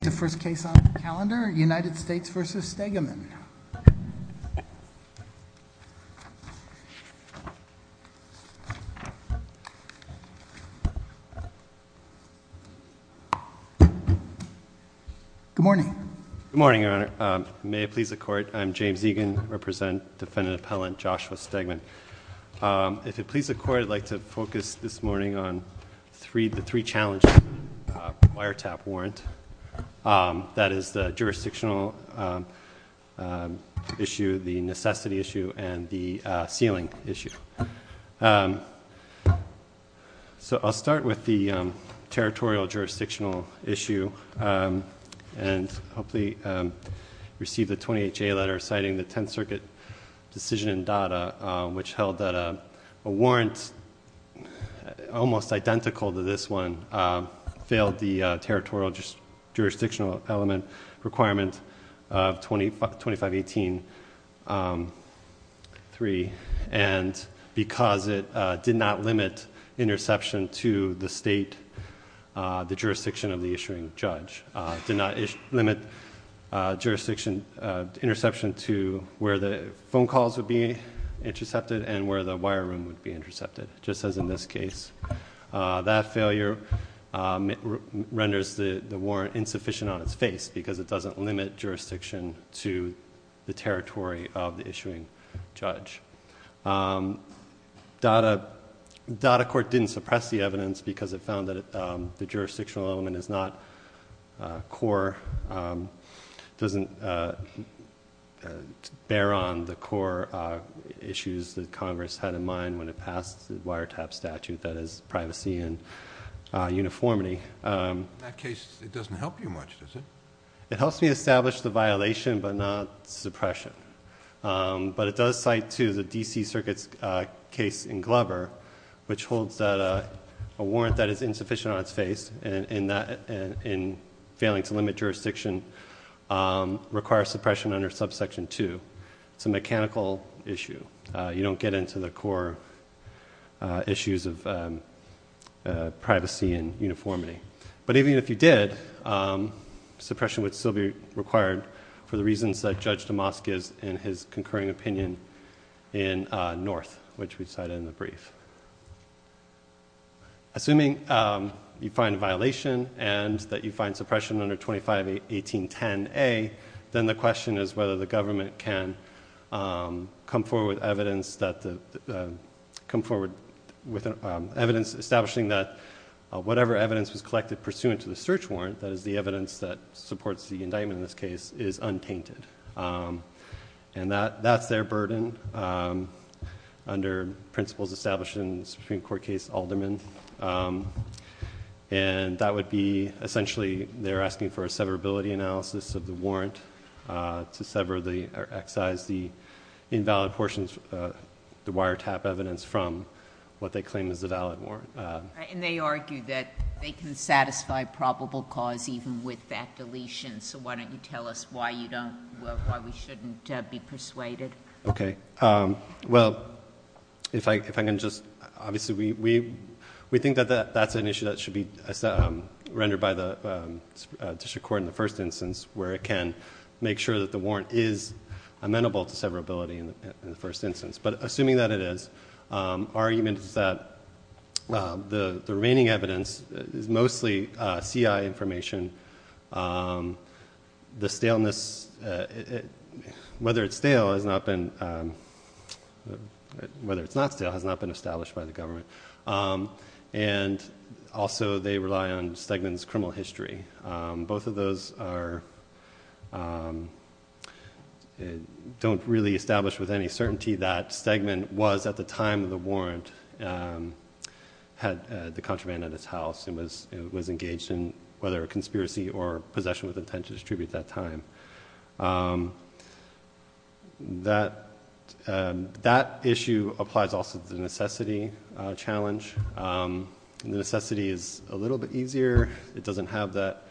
The first case on the calendar, United States v. Stegman. Good morning. Good morning, Your Honor. May it please the Court, I'm James Egan, I represent Defendant Appellant Joshua Stegman. If it please the Court, I'd like to focus this morning on the three-challenge wiretap warrant, that is the jurisdictional issue, the necessity issue, and the sealing issue. So I'll start with the territorial jurisdictional issue, and hopefully receive the 28-J letter citing the Tenth Circuit decision in Dada, which held that a warrant almost identical to this one failed the territorial jurisdictional element requirement of 2518.3. And because it did not limit interception to the state, the jurisdiction of the issuing judge, did not limit jurisdiction interception to where the phone calls would be intercepted, and where the wire room would be intercepted, just as in this case. That failure renders the warrant insufficient on its face, because it doesn't limit jurisdiction to the territory of the issuing judge. Dada court didn't suppress the evidence, because it found that the jurisdictional element is not core, doesn't bear on the core issues that Congress had in mind when it passed the wiretap statute, that is privacy and uniformity. That case, it doesn't help you much, does it? It helps me establish the violation, but not suppression. But it does cite to the DC Circuit's case in Glover, which holds that a warrant that is insufficient on its face, and failing to limit jurisdiction, requires suppression under subsection 2. It's a mechanical issue. You don't get into the core issues of privacy and uniformity. But even if you did, suppression would still be required for the reasons that Judge Damascus in his concurring opinion in North, which we cited in the brief. Assuming you find a violation, and that you find suppression under 251810A, then the question is whether the government can come forward with evidence establishing that whatever evidence was collected pursuant to the search warrant, that is the evidence that supports the indictment in this case, is untainted. And that's their burden under principles established in the Supreme Court case Alderman. And that would be, essentially, they're asking for a severability analysis of the warrant to sever or excise the invalid portions, the wiretap evidence from what they claim is a valid warrant. And they argue that they can satisfy probable cause even with that deletion. So why don't you tell us why we shouldn't be persuaded? OK. Well, if I can just, obviously, we think that that's an issue that should be rendered by the district court in the first instance, where it can make sure that the warrant is amenable to severability in the first instance. But assuming that it is, our argument is that the remaining evidence is mostly CI information. The staleness, whether it's stale, has not been, whether it's not stale, has not been established by the government. And also, they rely on Stegman's criminal history. Both of those don't really establish with any certainty that Stegman was, at the time of the warrant, had the contraband at his house and was engaged in whether a conspiracy or possession with intent to distribute that time. That issue applies also to the necessity challenge. The necessity is a little bit easier. It doesn't have that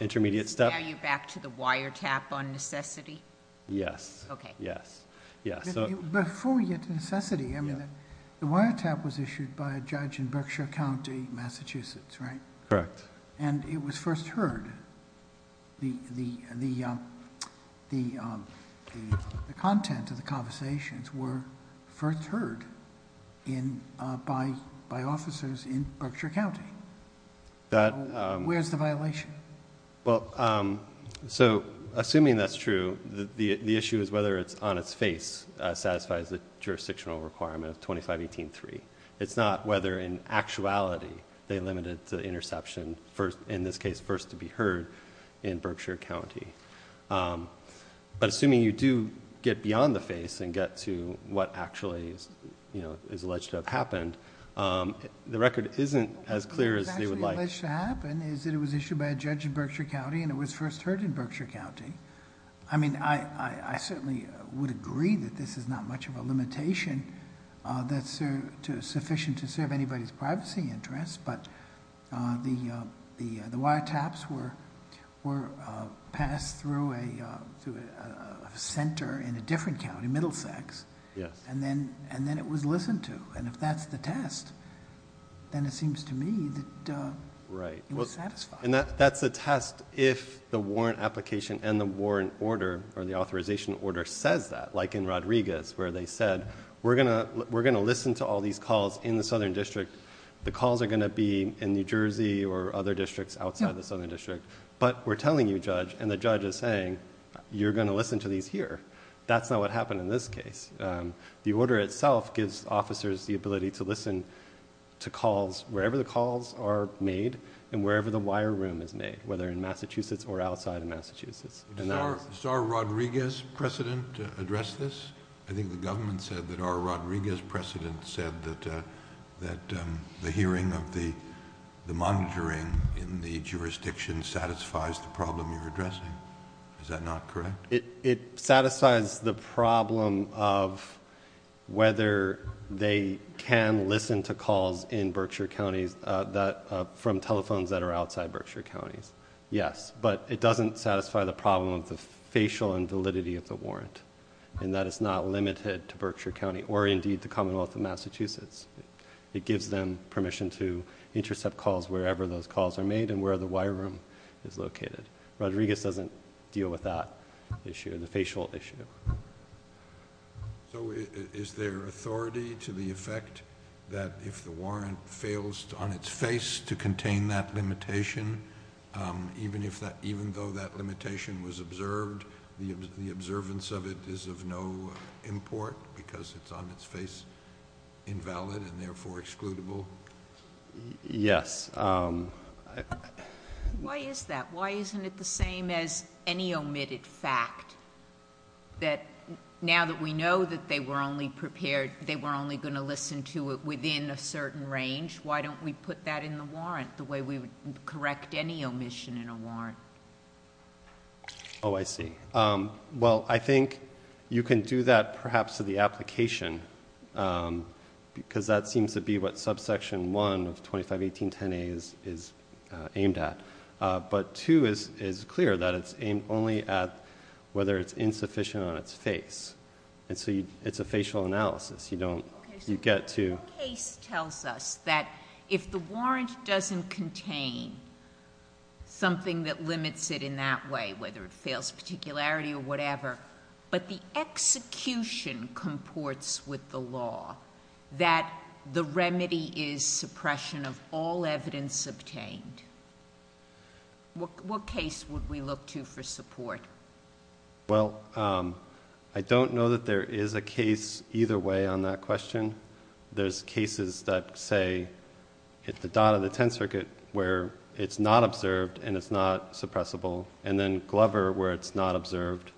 intermediate step. Is this value back to the wiretap on necessity? Yes. Yes. Yes. Before we get to necessity, I mean, the wiretap was issued by a judge in Berkshire County, Massachusetts, right? Correct. And it was first heard, the content of the conversations were first heard by officers in Berkshire County. Where's the violation? Well, so assuming that's true, the issue is whether it's on its face satisfies the jurisdictional requirement of 2518.3. It's not whether, in actuality, they in this case, first to be heard in Berkshire County. But assuming you do get beyond the face and get to what actually is alleged to have happened, the record isn't as clear as they would like. What's actually alleged to happen is that it was issued by a judge in Berkshire County and it was first heard in Berkshire County. I mean, I certainly would agree that this is not much of a limitation that's sufficient to serve anybody's privacy interests. But the wiretaps were passed through a center in a different county, Middlesex, and then it was listened to. And if that's the test, then it seems to me that it was satisfied. And that's a test if the warrant application and the warrant order, or the authorization order, says that, like in Rodriguez, where they said, we're going to listen to all these calls in the southern district. The calls are going to be in New Jersey or other districts outside the southern district. But we're telling you, Judge, and the judge is saying, you're going to listen to these here. That's not what happened in this case. The order itself gives officers the ability to listen to calls wherever the calls are made and wherever the wire room is made, whether in Massachusetts or outside of Massachusetts. Does our Rodriguez precedent address this? I think the government said that our Rodriguez precedent said that the hearing of the monitoring in the jurisdiction satisfies the problem you're addressing. Is that not correct? It satisfies the problem of whether they can listen to calls in Berkshire counties from telephones that are outside Berkshire counties, yes. But it doesn't satisfy the problem of the facial invalidity of the warrant and that it's not limited to Berkshire County, or indeed the Commonwealth of Massachusetts. It gives them permission to intercept calls wherever those calls are made and where the wire room is located. Rodriguez doesn't deal with that issue, the facial issue. So is there authority to the effect that if the warrant fails on its face to contain that limitation, even though that limitation was observed, the observance of it is of no import because it's on its face invalid and therefore excludable? Yes. Why is that? Why isn't it the same as any omitted fact that now that we know that they were only prepared, they were only going to listen to it within a certain range, why don't we put that in the warrant the way we would correct any omission in a warrant? Oh, I see. Well, I think you can do that, perhaps, to the application because that seems to be what subsection 1 of 2518.10a is aimed at. But 2 is clear that it's aimed only at whether it's insufficient on its face. And so it's a facial analysis. You don't get to. OK, so one case tells us that if the warrant doesn't contain something that limits it in that way, whether it fails particularity or whatever, but the execution comports with the law that the remedy is suppression of all evidence obtained, what case would we look to for support? Well, I don't know that there is a case either way on that question. There's cases that say at the dot of the 10th circuit where it's not observed and it's not suppressible. And then Glover where it's not observed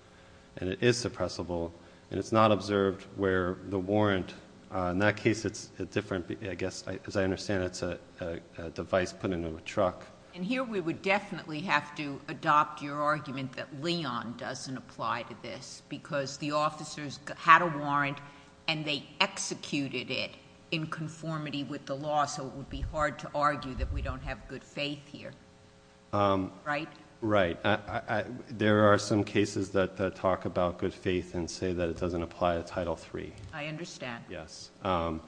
and it is suppressible and it's not observed where the warrant, in that case, it's a different, I guess, as I understand it, it's a device put into a truck. And here we would definitely have to adopt your argument that Leon doesn't apply to this because the officers had a warrant and they executed it in conformity with the law. So it would be hard to argue that we don't have good faith here, right? Right. There are some cases that talk about good faith and say that it doesn't apply to Title III. I understand. Yes. But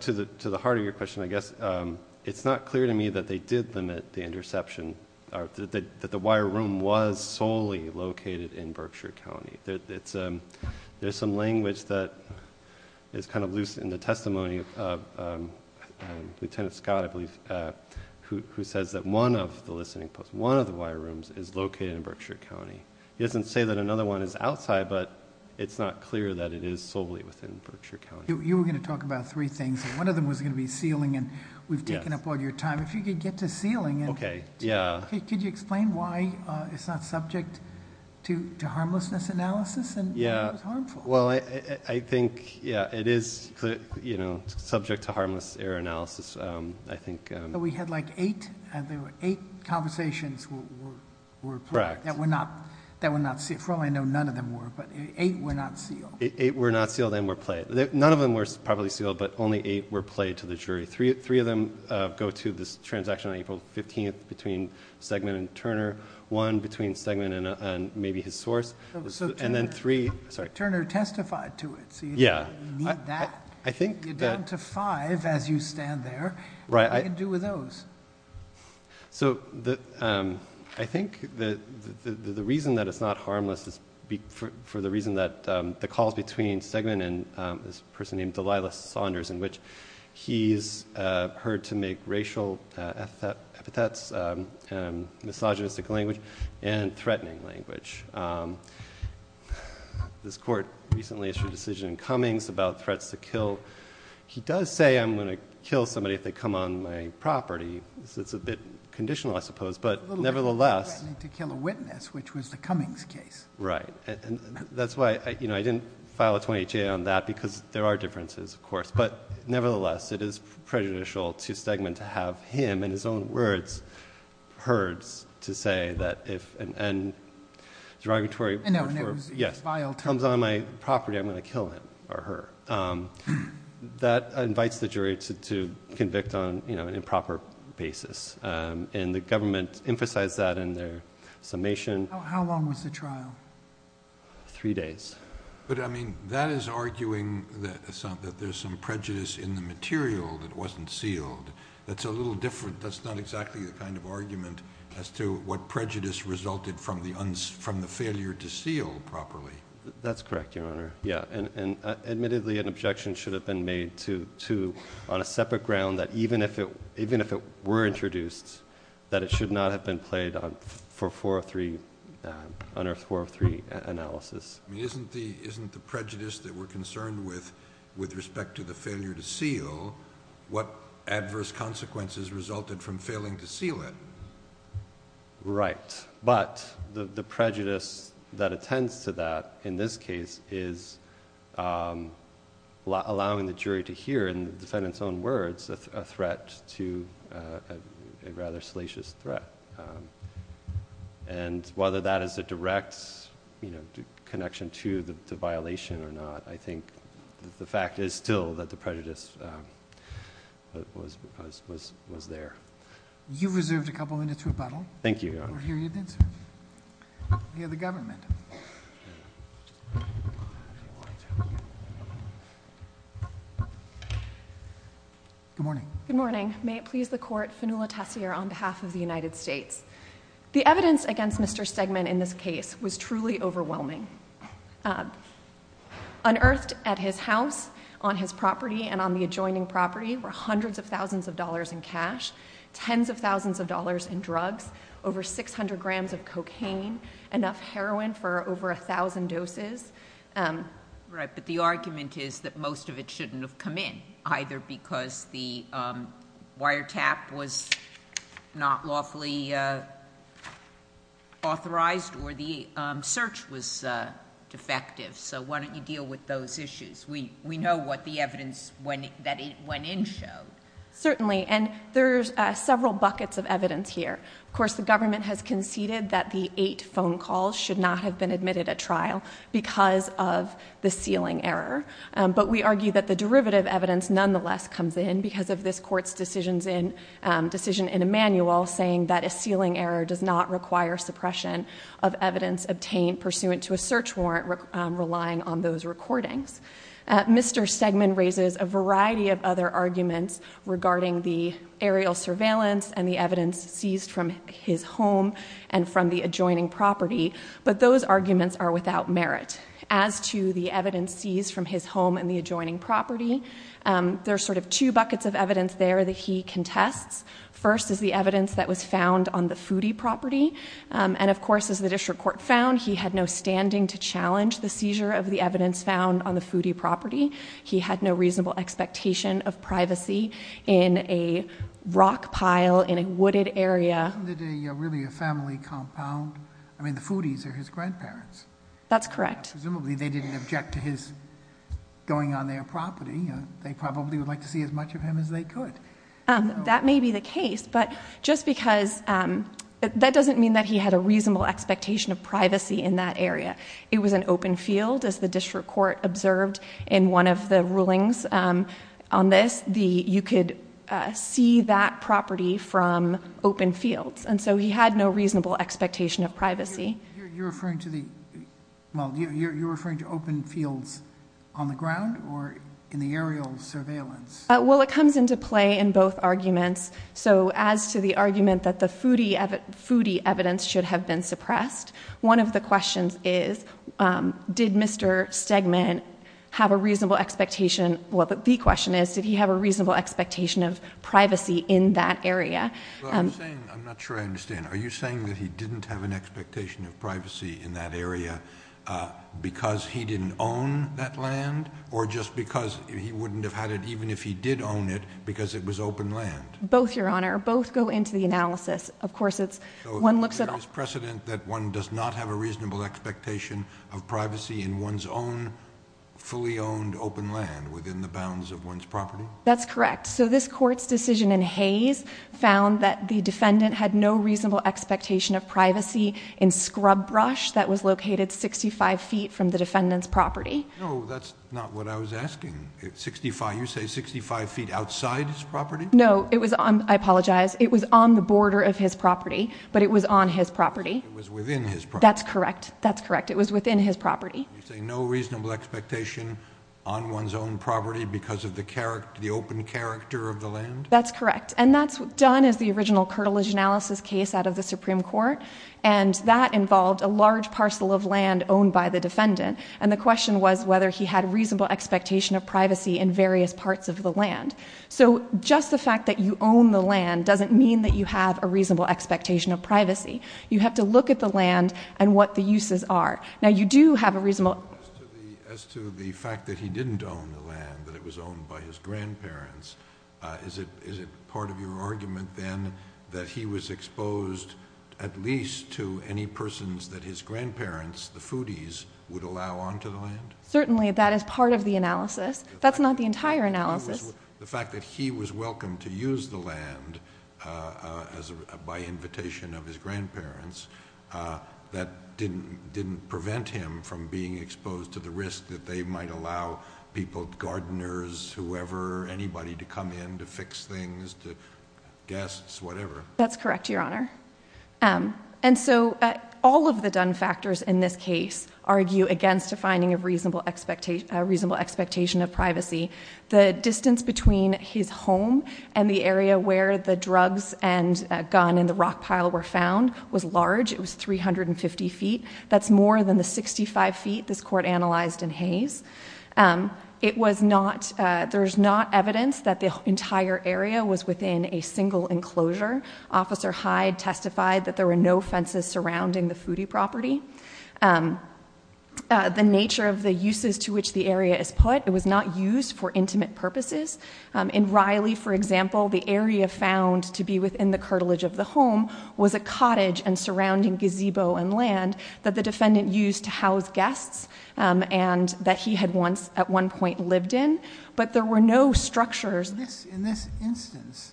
to the heart of your question, I guess it's not clear to me that they did limit the interception, that the wire room was solely located in Berkshire County. There's some language that is kind of loose in the testimony of Lieutenant Scott, I believe, who says that one of the listening posts, one of the wire rooms, is located in Berkshire County. He doesn't say that another one is outside, but it's not clear that it is solely within Berkshire County. You were going to talk about three things. One of them was going to be sealing, and we've taken up all your time. If you could get to sealing and could you explain why it's not subject to harmlessness analysis and why it's harmful? Well, I think, yeah, it is subject to harmless error analysis, I think. But we had like eight, and there were eight conversations that were not sealed. From what I know, none of them were, but eight were not sealed. Eight were not sealed and were played. None of them were properly sealed, but only eight were played to the jury. Three of them go to this transaction on April 15 between Stegman and Turner, one between Stegman and maybe his source, and then three. Turner testified to it, so you need that. You're down to five as you stand there. What do you do with those? So I think the reason that it's not harmless is for the reason that the calls between Stegman and this person named Delilah Saunders, in which he's heard to make racial epithets, misogynistic language, and threatening language. This court recently issued a decision in Cummings about threats to kill. He does say, I'm going to kill somebody if they come on my property. It's a bit conditional, I suppose. But nevertheless. Threatening to kill a witness, which was the Cummings case. Right. And that's why I didn't file a 28-J on that, because there are differences, of course. But nevertheless, it is prejudicial to Stegman to say that if an end derogatory words were, yes. If he comes on my property, I'm going to kill him or her. That invites the jury to convict on an improper basis. And the government emphasized that in their summation. How long was the trial? Three days. But I mean, that is arguing that there's some prejudice in the material that wasn't sealed. That's a little different. That's not exactly the kind of argument as to what prejudice resulted from the failure to seal properly. That's correct, Your Honor. Yeah. And admittedly, an objection should have been made, too, on a separate ground that even if it were introduced, that it should not have been played for a 403 analysis. with respect to the failure to seal, what adverse consequences resulted from failing to seal it. Right. But the prejudice that attends to that, in this case, is allowing the jury to hear, in the defendant's own words, a threat to a rather salacious threat. And whether that is a direct connection to the violation or not, I think the fact is still that the prejudice was there. You've reserved a couple minutes for rebuttal. Thank you, Your Honor. We'll hear your answer. We have the government. Good morning. Good morning. May it please the court, Fanula Tessier on behalf of the United States. The evidence against Mr. Stegman in this case was truly overwhelming. Unearthed at his house, on his property, and on the adjoining property were hundreds of thousands of dollars in cash, tens of thousands of dollars in drugs, over 600 grams of cocaine, enough heroin for over 1,000 doses. Right, but the argument is that most of it shouldn't have come in, either because the wiretap was not awfully authorized or the search was defective. So why don't you deal with those issues? We know what the evidence that went in showed. Certainly, and there's several buckets of evidence here. Of course, the government has conceded that the eight phone calls should not have been admitted at trial because of the sealing error. But we argue that the derivative evidence nonetheless comes in because of this court's decision in Emanuel, saying that a sealing error does not require suppression of evidence obtained pursuant to a search warrant relying on those recordings. Mr. Stegman raises a variety of other arguments regarding the aerial surveillance and the evidence seized from his home and from the adjoining property, but those arguments are without merit. As to the evidence seized from his home and the adjoining property, there are sort of two buckets of evidence there that he contests. First is the evidence that was found on the foodie property. And of course, as the district court found, he had no standing to challenge the seizure of the evidence found on the foodie property. He had no reasonable expectation of privacy in a rock pile in a wooded area. Isn't it really a family compound? I mean, the foodies are his grandparents. That's correct. Presumably, they didn't object to his going on their property. They probably would like to see as much of him as they could. That may be the case, but just because that doesn't mean that he had a reasonable expectation of privacy in that area. It was an open field, as the district court observed in one of the rulings on this. You could see that property from open fields. And so he had no reasonable expectation of privacy. You're referring to the open fields on the ground or in the aerial surveillance? Well, it comes into play in both arguments. So as to the argument that the foodie evidence should have been suppressed, one of the questions is, did Mr. Stegman have a reasonable expectation? Well, the question is, did he have a reasonable expectation of privacy in that area? I'm not sure I understand. Are you saying that he didn't have an expectation of privacy in that area because he didn't own that land or just because he wouldn't have had it, even if he did own it, because it was open land? Both, Your Honor. Both go into the analysis. Of course, it's one looks at all. So there is precedent that one does not have a reasonable expectation of privacy in one's own fully-owned open land within the bounds of one's property? That's correct. So this court's decision in Hayes found that the defendant had no reasonable expectation of privacy in scrub brush that was located 65 feet from the defendant's property. No, that's not what I was asking. You say 65 feet outside his property? No, it was on, I apologize, it was on the border of his property, but it was on his property. It was within his property. That's correct. That's correct. It was within his property. You're saying no reasonable expectation on one's own property because of the open character of the land? That's correct. And that's done as the original curtilage analysis case out of the Supreme Court. And that involved a large parcel of land owned by the defendant. And the question was whether he had reasonable expectation of privacy in various parts of the land. So just the fact that you own the land doesn't mean that you have a reasonable expectation of privacy. You have to look at the land and what the uses are. Now, you do have a reasonable. As to the fact that he didn't own the land, that it was owned by his grandparents, is it part of your argument then that he was exposed at least to any persons that his grandparents, the foodies, would allow onto the land? Certainly, that is part of the analysis. That's not the entire analysis. The fact that he was welcome to use the land by invitation of his grandparents, that didn't prevent him from being exposed to the risk that they might allow people, gardeners, whoever, anybody, to come in to fix things, to guests, whatever. That's correct, Your Honor. And so all of the done factors in this case argue against a finding of reasonable expectation of privacy. The distance between his home and the area where the drugs and gun in the rock pile were found was large. It was 350 feet. That's more than the 65 feet this court analyzed in Hays. It was not, there's not evidence that the entire area was within a single enclosure. Officer Hyde testified that there were no fences surrounding the foodie property. The nature of the uses to which the area is put, it was not used for intimate purposes. In Riley, for example, the area found to be within the cartilage of the home was a cottage and surrounding gazebo and land that the defendant used to house guests and that he had once, at one point, lived in. But there were no structures. In this instance,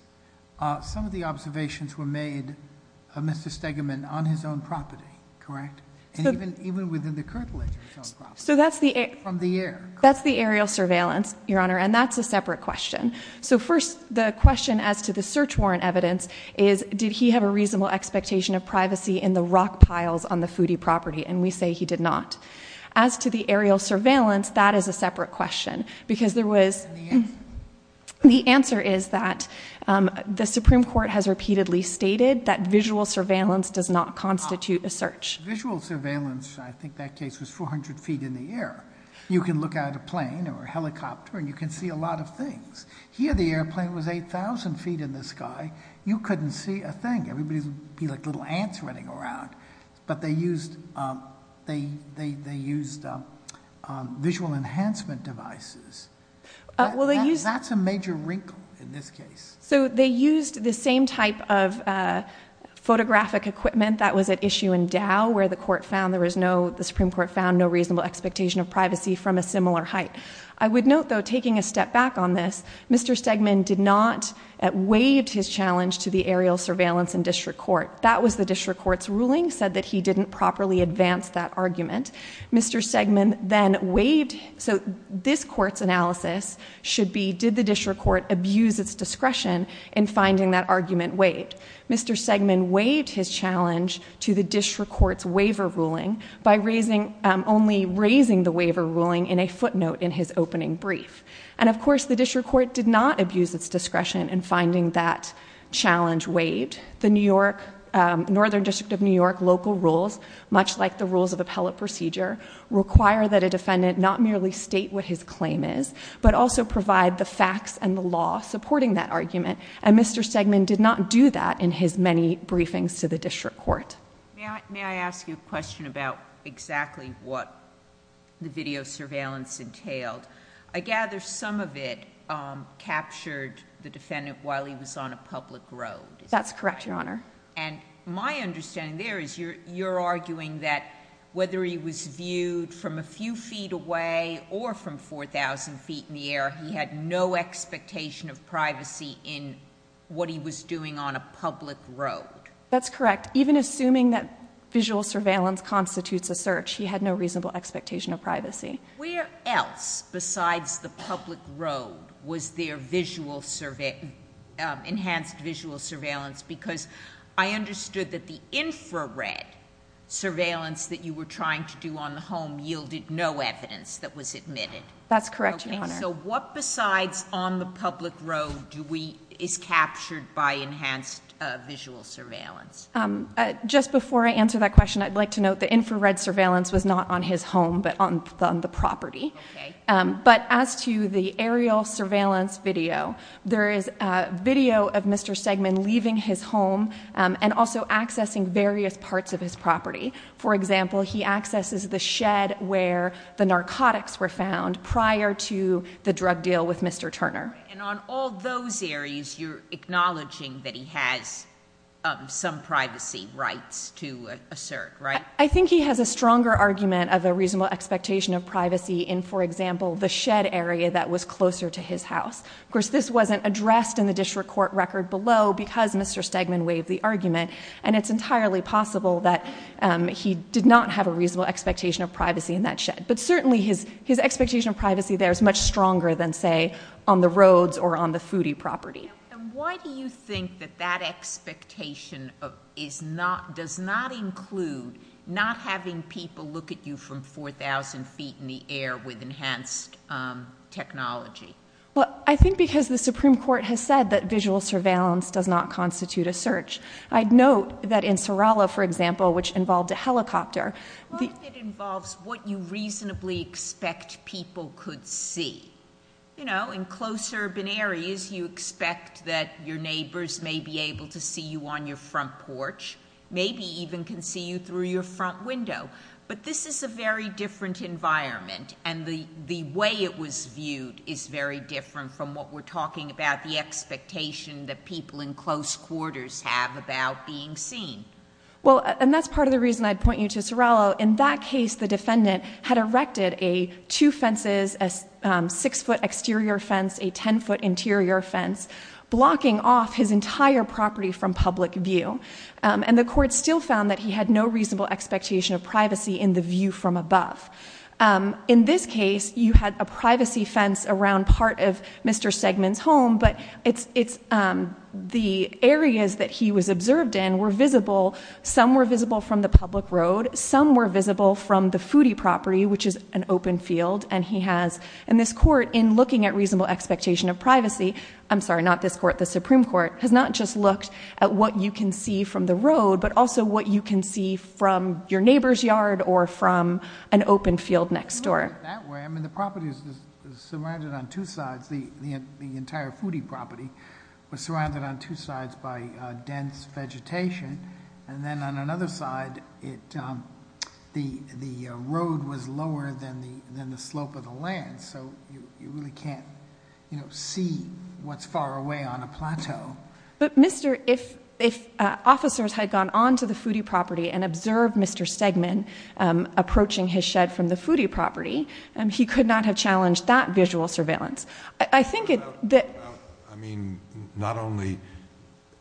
some of the observations were made of Mr. Stegeman on his own property, correct? And even within the cartilage of his own property. So that's the aerial surveillance, Your Honor. And that's a separate question. So first, the question as to the search warrant evidence is, did he have a reasonable expectation of privacy in the rock piles on the foodie property? And we say he did not. As to the aerial surveillance, that is a separate question. Because there was, the answer is that the Supreme Court has repeatedly stated that visual surveillance does not constitute a search. Visual surveillance, I think that case was 400 feet in the air. You can look at a plane or a helicopter and you can see a lot of things. Here, the airplane was 8,000 feet in the sky. You couldn't see a thing. Everybody would be like little ants running around. But they used visual enhancement devices. That's a major wrinkle in this case. So they used the same type of photographic equipment that was at issue in Dow, where the Supreme Court found no reasonable expectation of privacy from a similar height. I would note, though, taking a step back on this, Mr. Stegman did not waive his challenge to the aerial surveillance in district court. That was the district court's ruling, said that he didn't properly advance that argument. Mr. Stegman then waived. So this court's analysis should be, did the district court abuse its discretion in finding that argument waived? Mr. Stegman waived his challenge to the district court's waiver ruling by only raising the waiver ruling in a footnote in his opening brief. And of course, the district court did not abuse its discretion in finding that challenge waived. The Northern District of New York local rules, much like the rules of appellate procedure, require that a defendant not merely state what his claim is, but also provide the facts and the law supporting that argument. And Mr. Stegman did not do that in his many briefings to the district court. May I ask you a question about exactly what the video surveillance entailed? I gather some of it captured the defendant while he was on a public road. That's correct, Your Honor. And my understanding there is you're arguing that whether he was viewed from a few feet away or from 4,000 feet in the air, he had no expectation of privacy in what he was doing on a public road. That's correct. Even assuming that visual surveillance constitutes a search, he had no reasonable expectation of privacy. Where else besides the public road was there enhanced visual surveillance? Because I understood that the infrared surveillance that you were trying to do on the home yielded no evidence that was admitted. That's correct, Your Honor. So what besides on the public road is captured by enhanced visual surveillance? Just before I answer that question, I'd like to note the infrared surveillance was not on his home, but on the property. But as to the aerial surveillance video, there is video of Mr. Stegman leaving his home and also accessing various parts of his property. For example, he accesses the shed where the narcotics were found prior to the drug deal with Mr. Turner. And on all those areas, you're acknowledging that he has some privacy rights to assert, right? I think he has a stronger argument of a reasonable expectation of privacy in, for example, the shed area that was closer to his house. Of course, this wasn't addressed in the district court record below because Mr. Stegman waived the argument. And it's entirely possible that he did not have a reasonable expectation of privacy in that shed. But certainly, his expectation of privacy there is much stronger than, say, on the roads or on the foodie property. And why do you think that that expectation does not include not having people look at you from 4,000 feet in the air with enhanced technology? Well, I think because the Supreme Court has said that visual surveillance does not constitute a search. I'd note that in Sorella, for example, which involved a helicopter, the- Well, it involves what you reasonably expect people could see. You know, in close urban areas, you expect that your neighbors may be able to see you on your front porch, maybe even can see you through your front window. But this is a very different environment. And the way it was viewed is very different from what we're talking about, the expectation that people in close quarters have about being seen. Well, and that's part of the reason I'd point you to Sorella. In that case, the defendant had erected a two fences, a six-foot exterior fence, a 10-foot interior fence, blocking off his entire property from public view. And the court still found that he had no reasonable expectation of privacy in the view from above. In this case, you had a privacy fence around part of Mr. Segman's home. But the areas that he was observed in were visible. Some were visible from the public road. Some were visible from the foodie property, which is an open field. And this court, in looking at reasonable expectation of privacy, I'm sorry, not this court, the Supreme Court, has not just looked at what you can see from the road, but also what you can see from your neighbor's yard or from an open field next door. That way, I mean, the property is surrounded on two sides. The entire foodie property was surrounded on two sides by dense vegetation. And then on another side, the road was lower than the slope of the land. So you really can't see what's far away on a plateau. But, Mr., if officers had gone onto the foodie property and observed Mr. Segman approaching his shed from the foodie property, he could not have challenged that visual surveillance. I think that the- I mean, not only,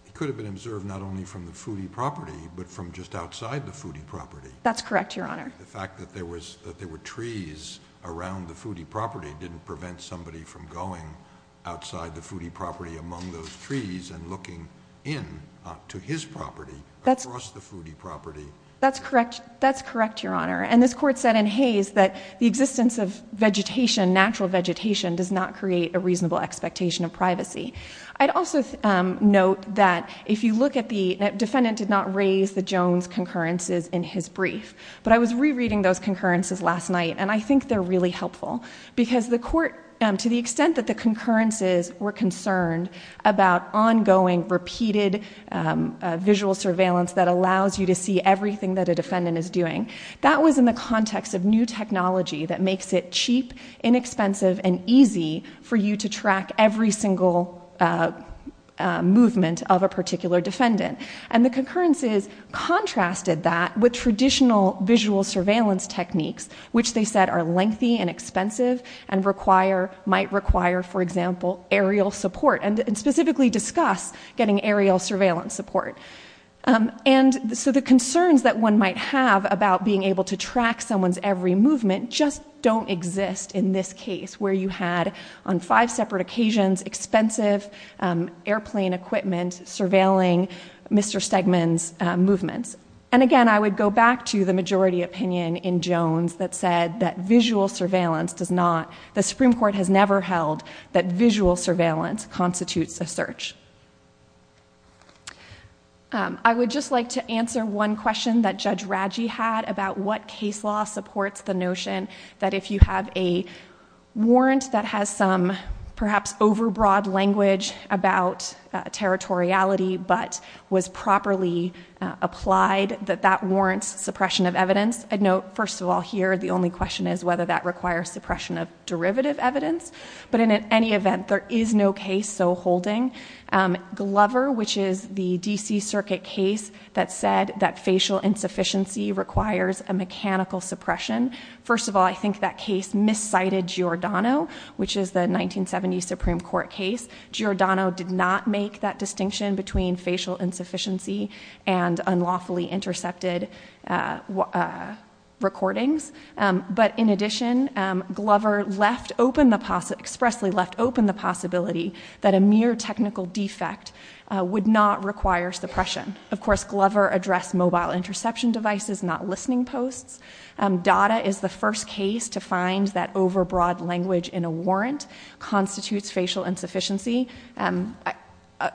he could have been observed not only from the foodie property, but from just outside the foodie property. That's correct, Your Honor. The fact that there were trees around the foodie property didn't prevent somebody from going outside the foodie property among those trees and looking in to his property across the foodie property. That's correct, Your Honor. And this court said in Hays that the existence of vegetation, natural vegetation, does not create a reasonable expectation of privacy. I'd also note that if you look at the- defendant did not raise the Jones concurrences in his brief. But I was rereading those concurrences last night. And I think they're really helpful. Because the court, to the extent that the concurrences were concerned about ongoing, repeated visual surveillance that allows you to see everything that a defendant is doing, that was in the context of new technology that makes it cheap, inexpensive, and easy for you to track every single movement of a particular defendant. And the concurrences contrasted that with traditional visual surveillance techniques, which they said are lengthy and expensive and might require, for example, aerial support, and specifically discuss getting aerial surveillance support. And so the concerns that one might have about being able to track someone's every movement just don't exist in this case, where you had, on five separate occasions, expensive airplane equipment surveilling Mr. Stegman's movements. And again, I would go back to the majority opinion in Jones that said that visual surveillance does not. The Supreme Court has never held that visual surveillance constitutes a search. I would just like to answer one question that Judge Radji had about what case law supports the notion that if you have a warrant that has some, perhaps, overbroad language about territoriality, but was properly applied, that that warrants suppression of evidence. I'd note, first of all, here, the only question is whether that requires suppression of derivative evidence. But in any event, there is no case so holding. Glover, which is the DC Circuit case that said that facial insufficiency requires a mechanical suppression. First of all, I think that case miscited Giordano, which is the 1970 Supreme Court case. Giordano did not make that distinction between facial insufficiency and unlawfully intercepted recordings. But in addition, Glover expressly left open the possibility that a mere technical defect would not require suppression. Of course, Glover addressed mobile interception devices, not listening posts. DADA is the first case to find that overbroad language in a warrant constitutes facial insufficiency.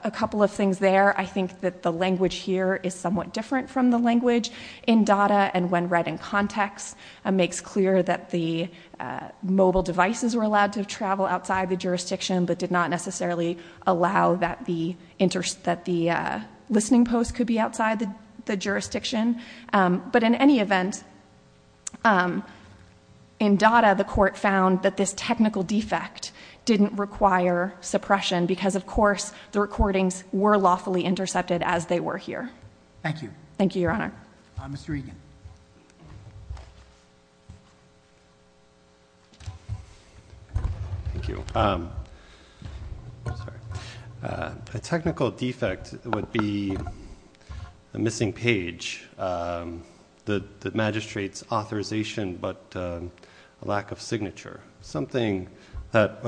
A couple of things there. I think that the language here is somewhat different from the language in DADA. And when read in context, it makes clear that the mobile devices were allowed to travel outside the jurisdiction, but did not necessarily allow that the listening post could be outside the jurisdiction. But in any event, in DADA, the court found that this technical defect didn't require suppression. Because of course, the recordings were lawfully intercepted as they were here. Thank you. Thank you, Your Honor. Mr. Egan. Thank you. A technical defect would be a missing page. The magistrate's authorization, but a lack of signature. Something that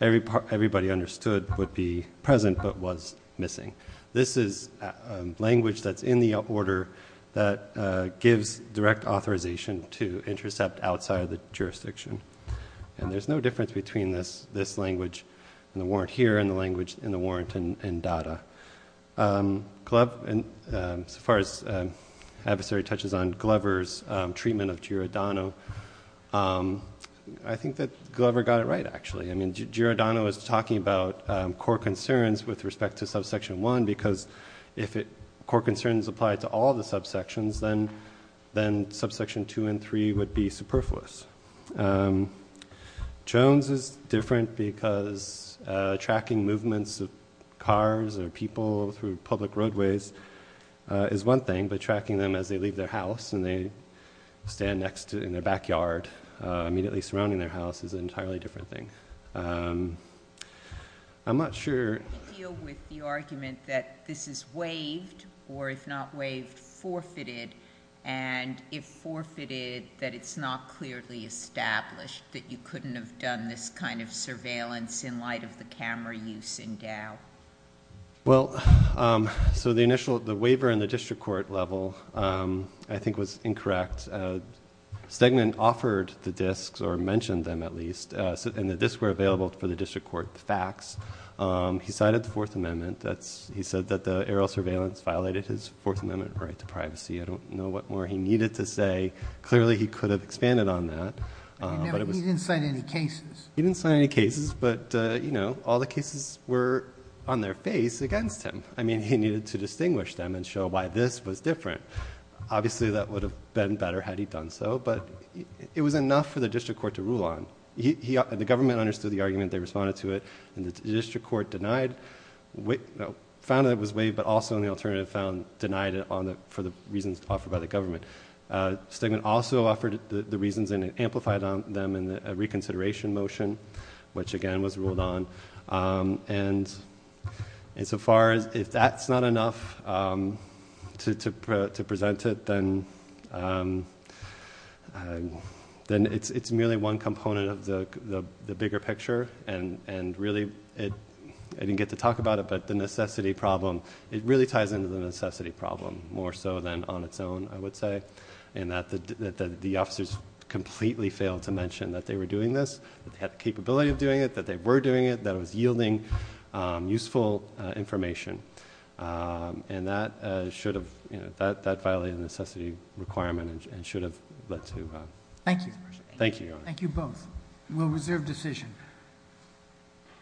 everybody understood would be present, but was missing. This is language that's in the order that gives direct authorization to intercept outside the jurisdiction. And there's no difference between this language in the warrant here, and the language in the warrant in DADA. As far as adversary touches on Glover's treatment of Giordano, I think that Glover got it right, actually. I mean, Giordano is talking about core concerns with respect to subsection 1. Because if core concerns apply to all the subsections, then subsection 2 and 3 would be superfluous. Jones is different, because tracking movements of cars or people through public roadways is one thing. But tracking them as they leave their house, and they stand next to it in their backyard, immediately surrounding their house, is an entirely different thing. I'm not sure. How do you deal with the argument that this is waived, or if not waived, forfeited? And if forfeited, that it's not clearly established, that you couldn't have done this kind of surveillance in light of the camera use in DOW? Well, so the waiver in the district court level, I think, was incorrect. Stegman offered the disks, or mentioned them at least. And the disks were available for the district court fax. He cited the Fourth Amendment. He said that the aerial surveillance violated his Fourth Amendment right to privacy. I don't know what more he needed to say. Clearly, he could have expanded on that. He didn't cite any cases. He didn't cite any cases. But all the cases were on their face against him. I mean, he needed to distinguish them and show why this was different. Obviously, that would have been better had he done so. But it was enough for the district court to rule on. The government understood the argument. They responded to it. And the district court found that it was waived, but also, on the alternative, denied it for the reasons offered by the government. Stegman also offered the reasons and amplified them in a reconsideration motion, which, again, was ruled on. And so far, if that's not enough to present it, then it's merely one component of the bigger picture. And really, I didn't get to talk about it, but the necessity problem, it really ties into the necessity problem, more so than on its own, I would say, in that the officers completely failed to mention that they were doing this, that they had the capability of doing it, that they were doing it, that it was yielding useful information. And that violated the necessity requirement and should have led to the dispersion. Thank you. Thank you. Thank you both. We'll reserve decision.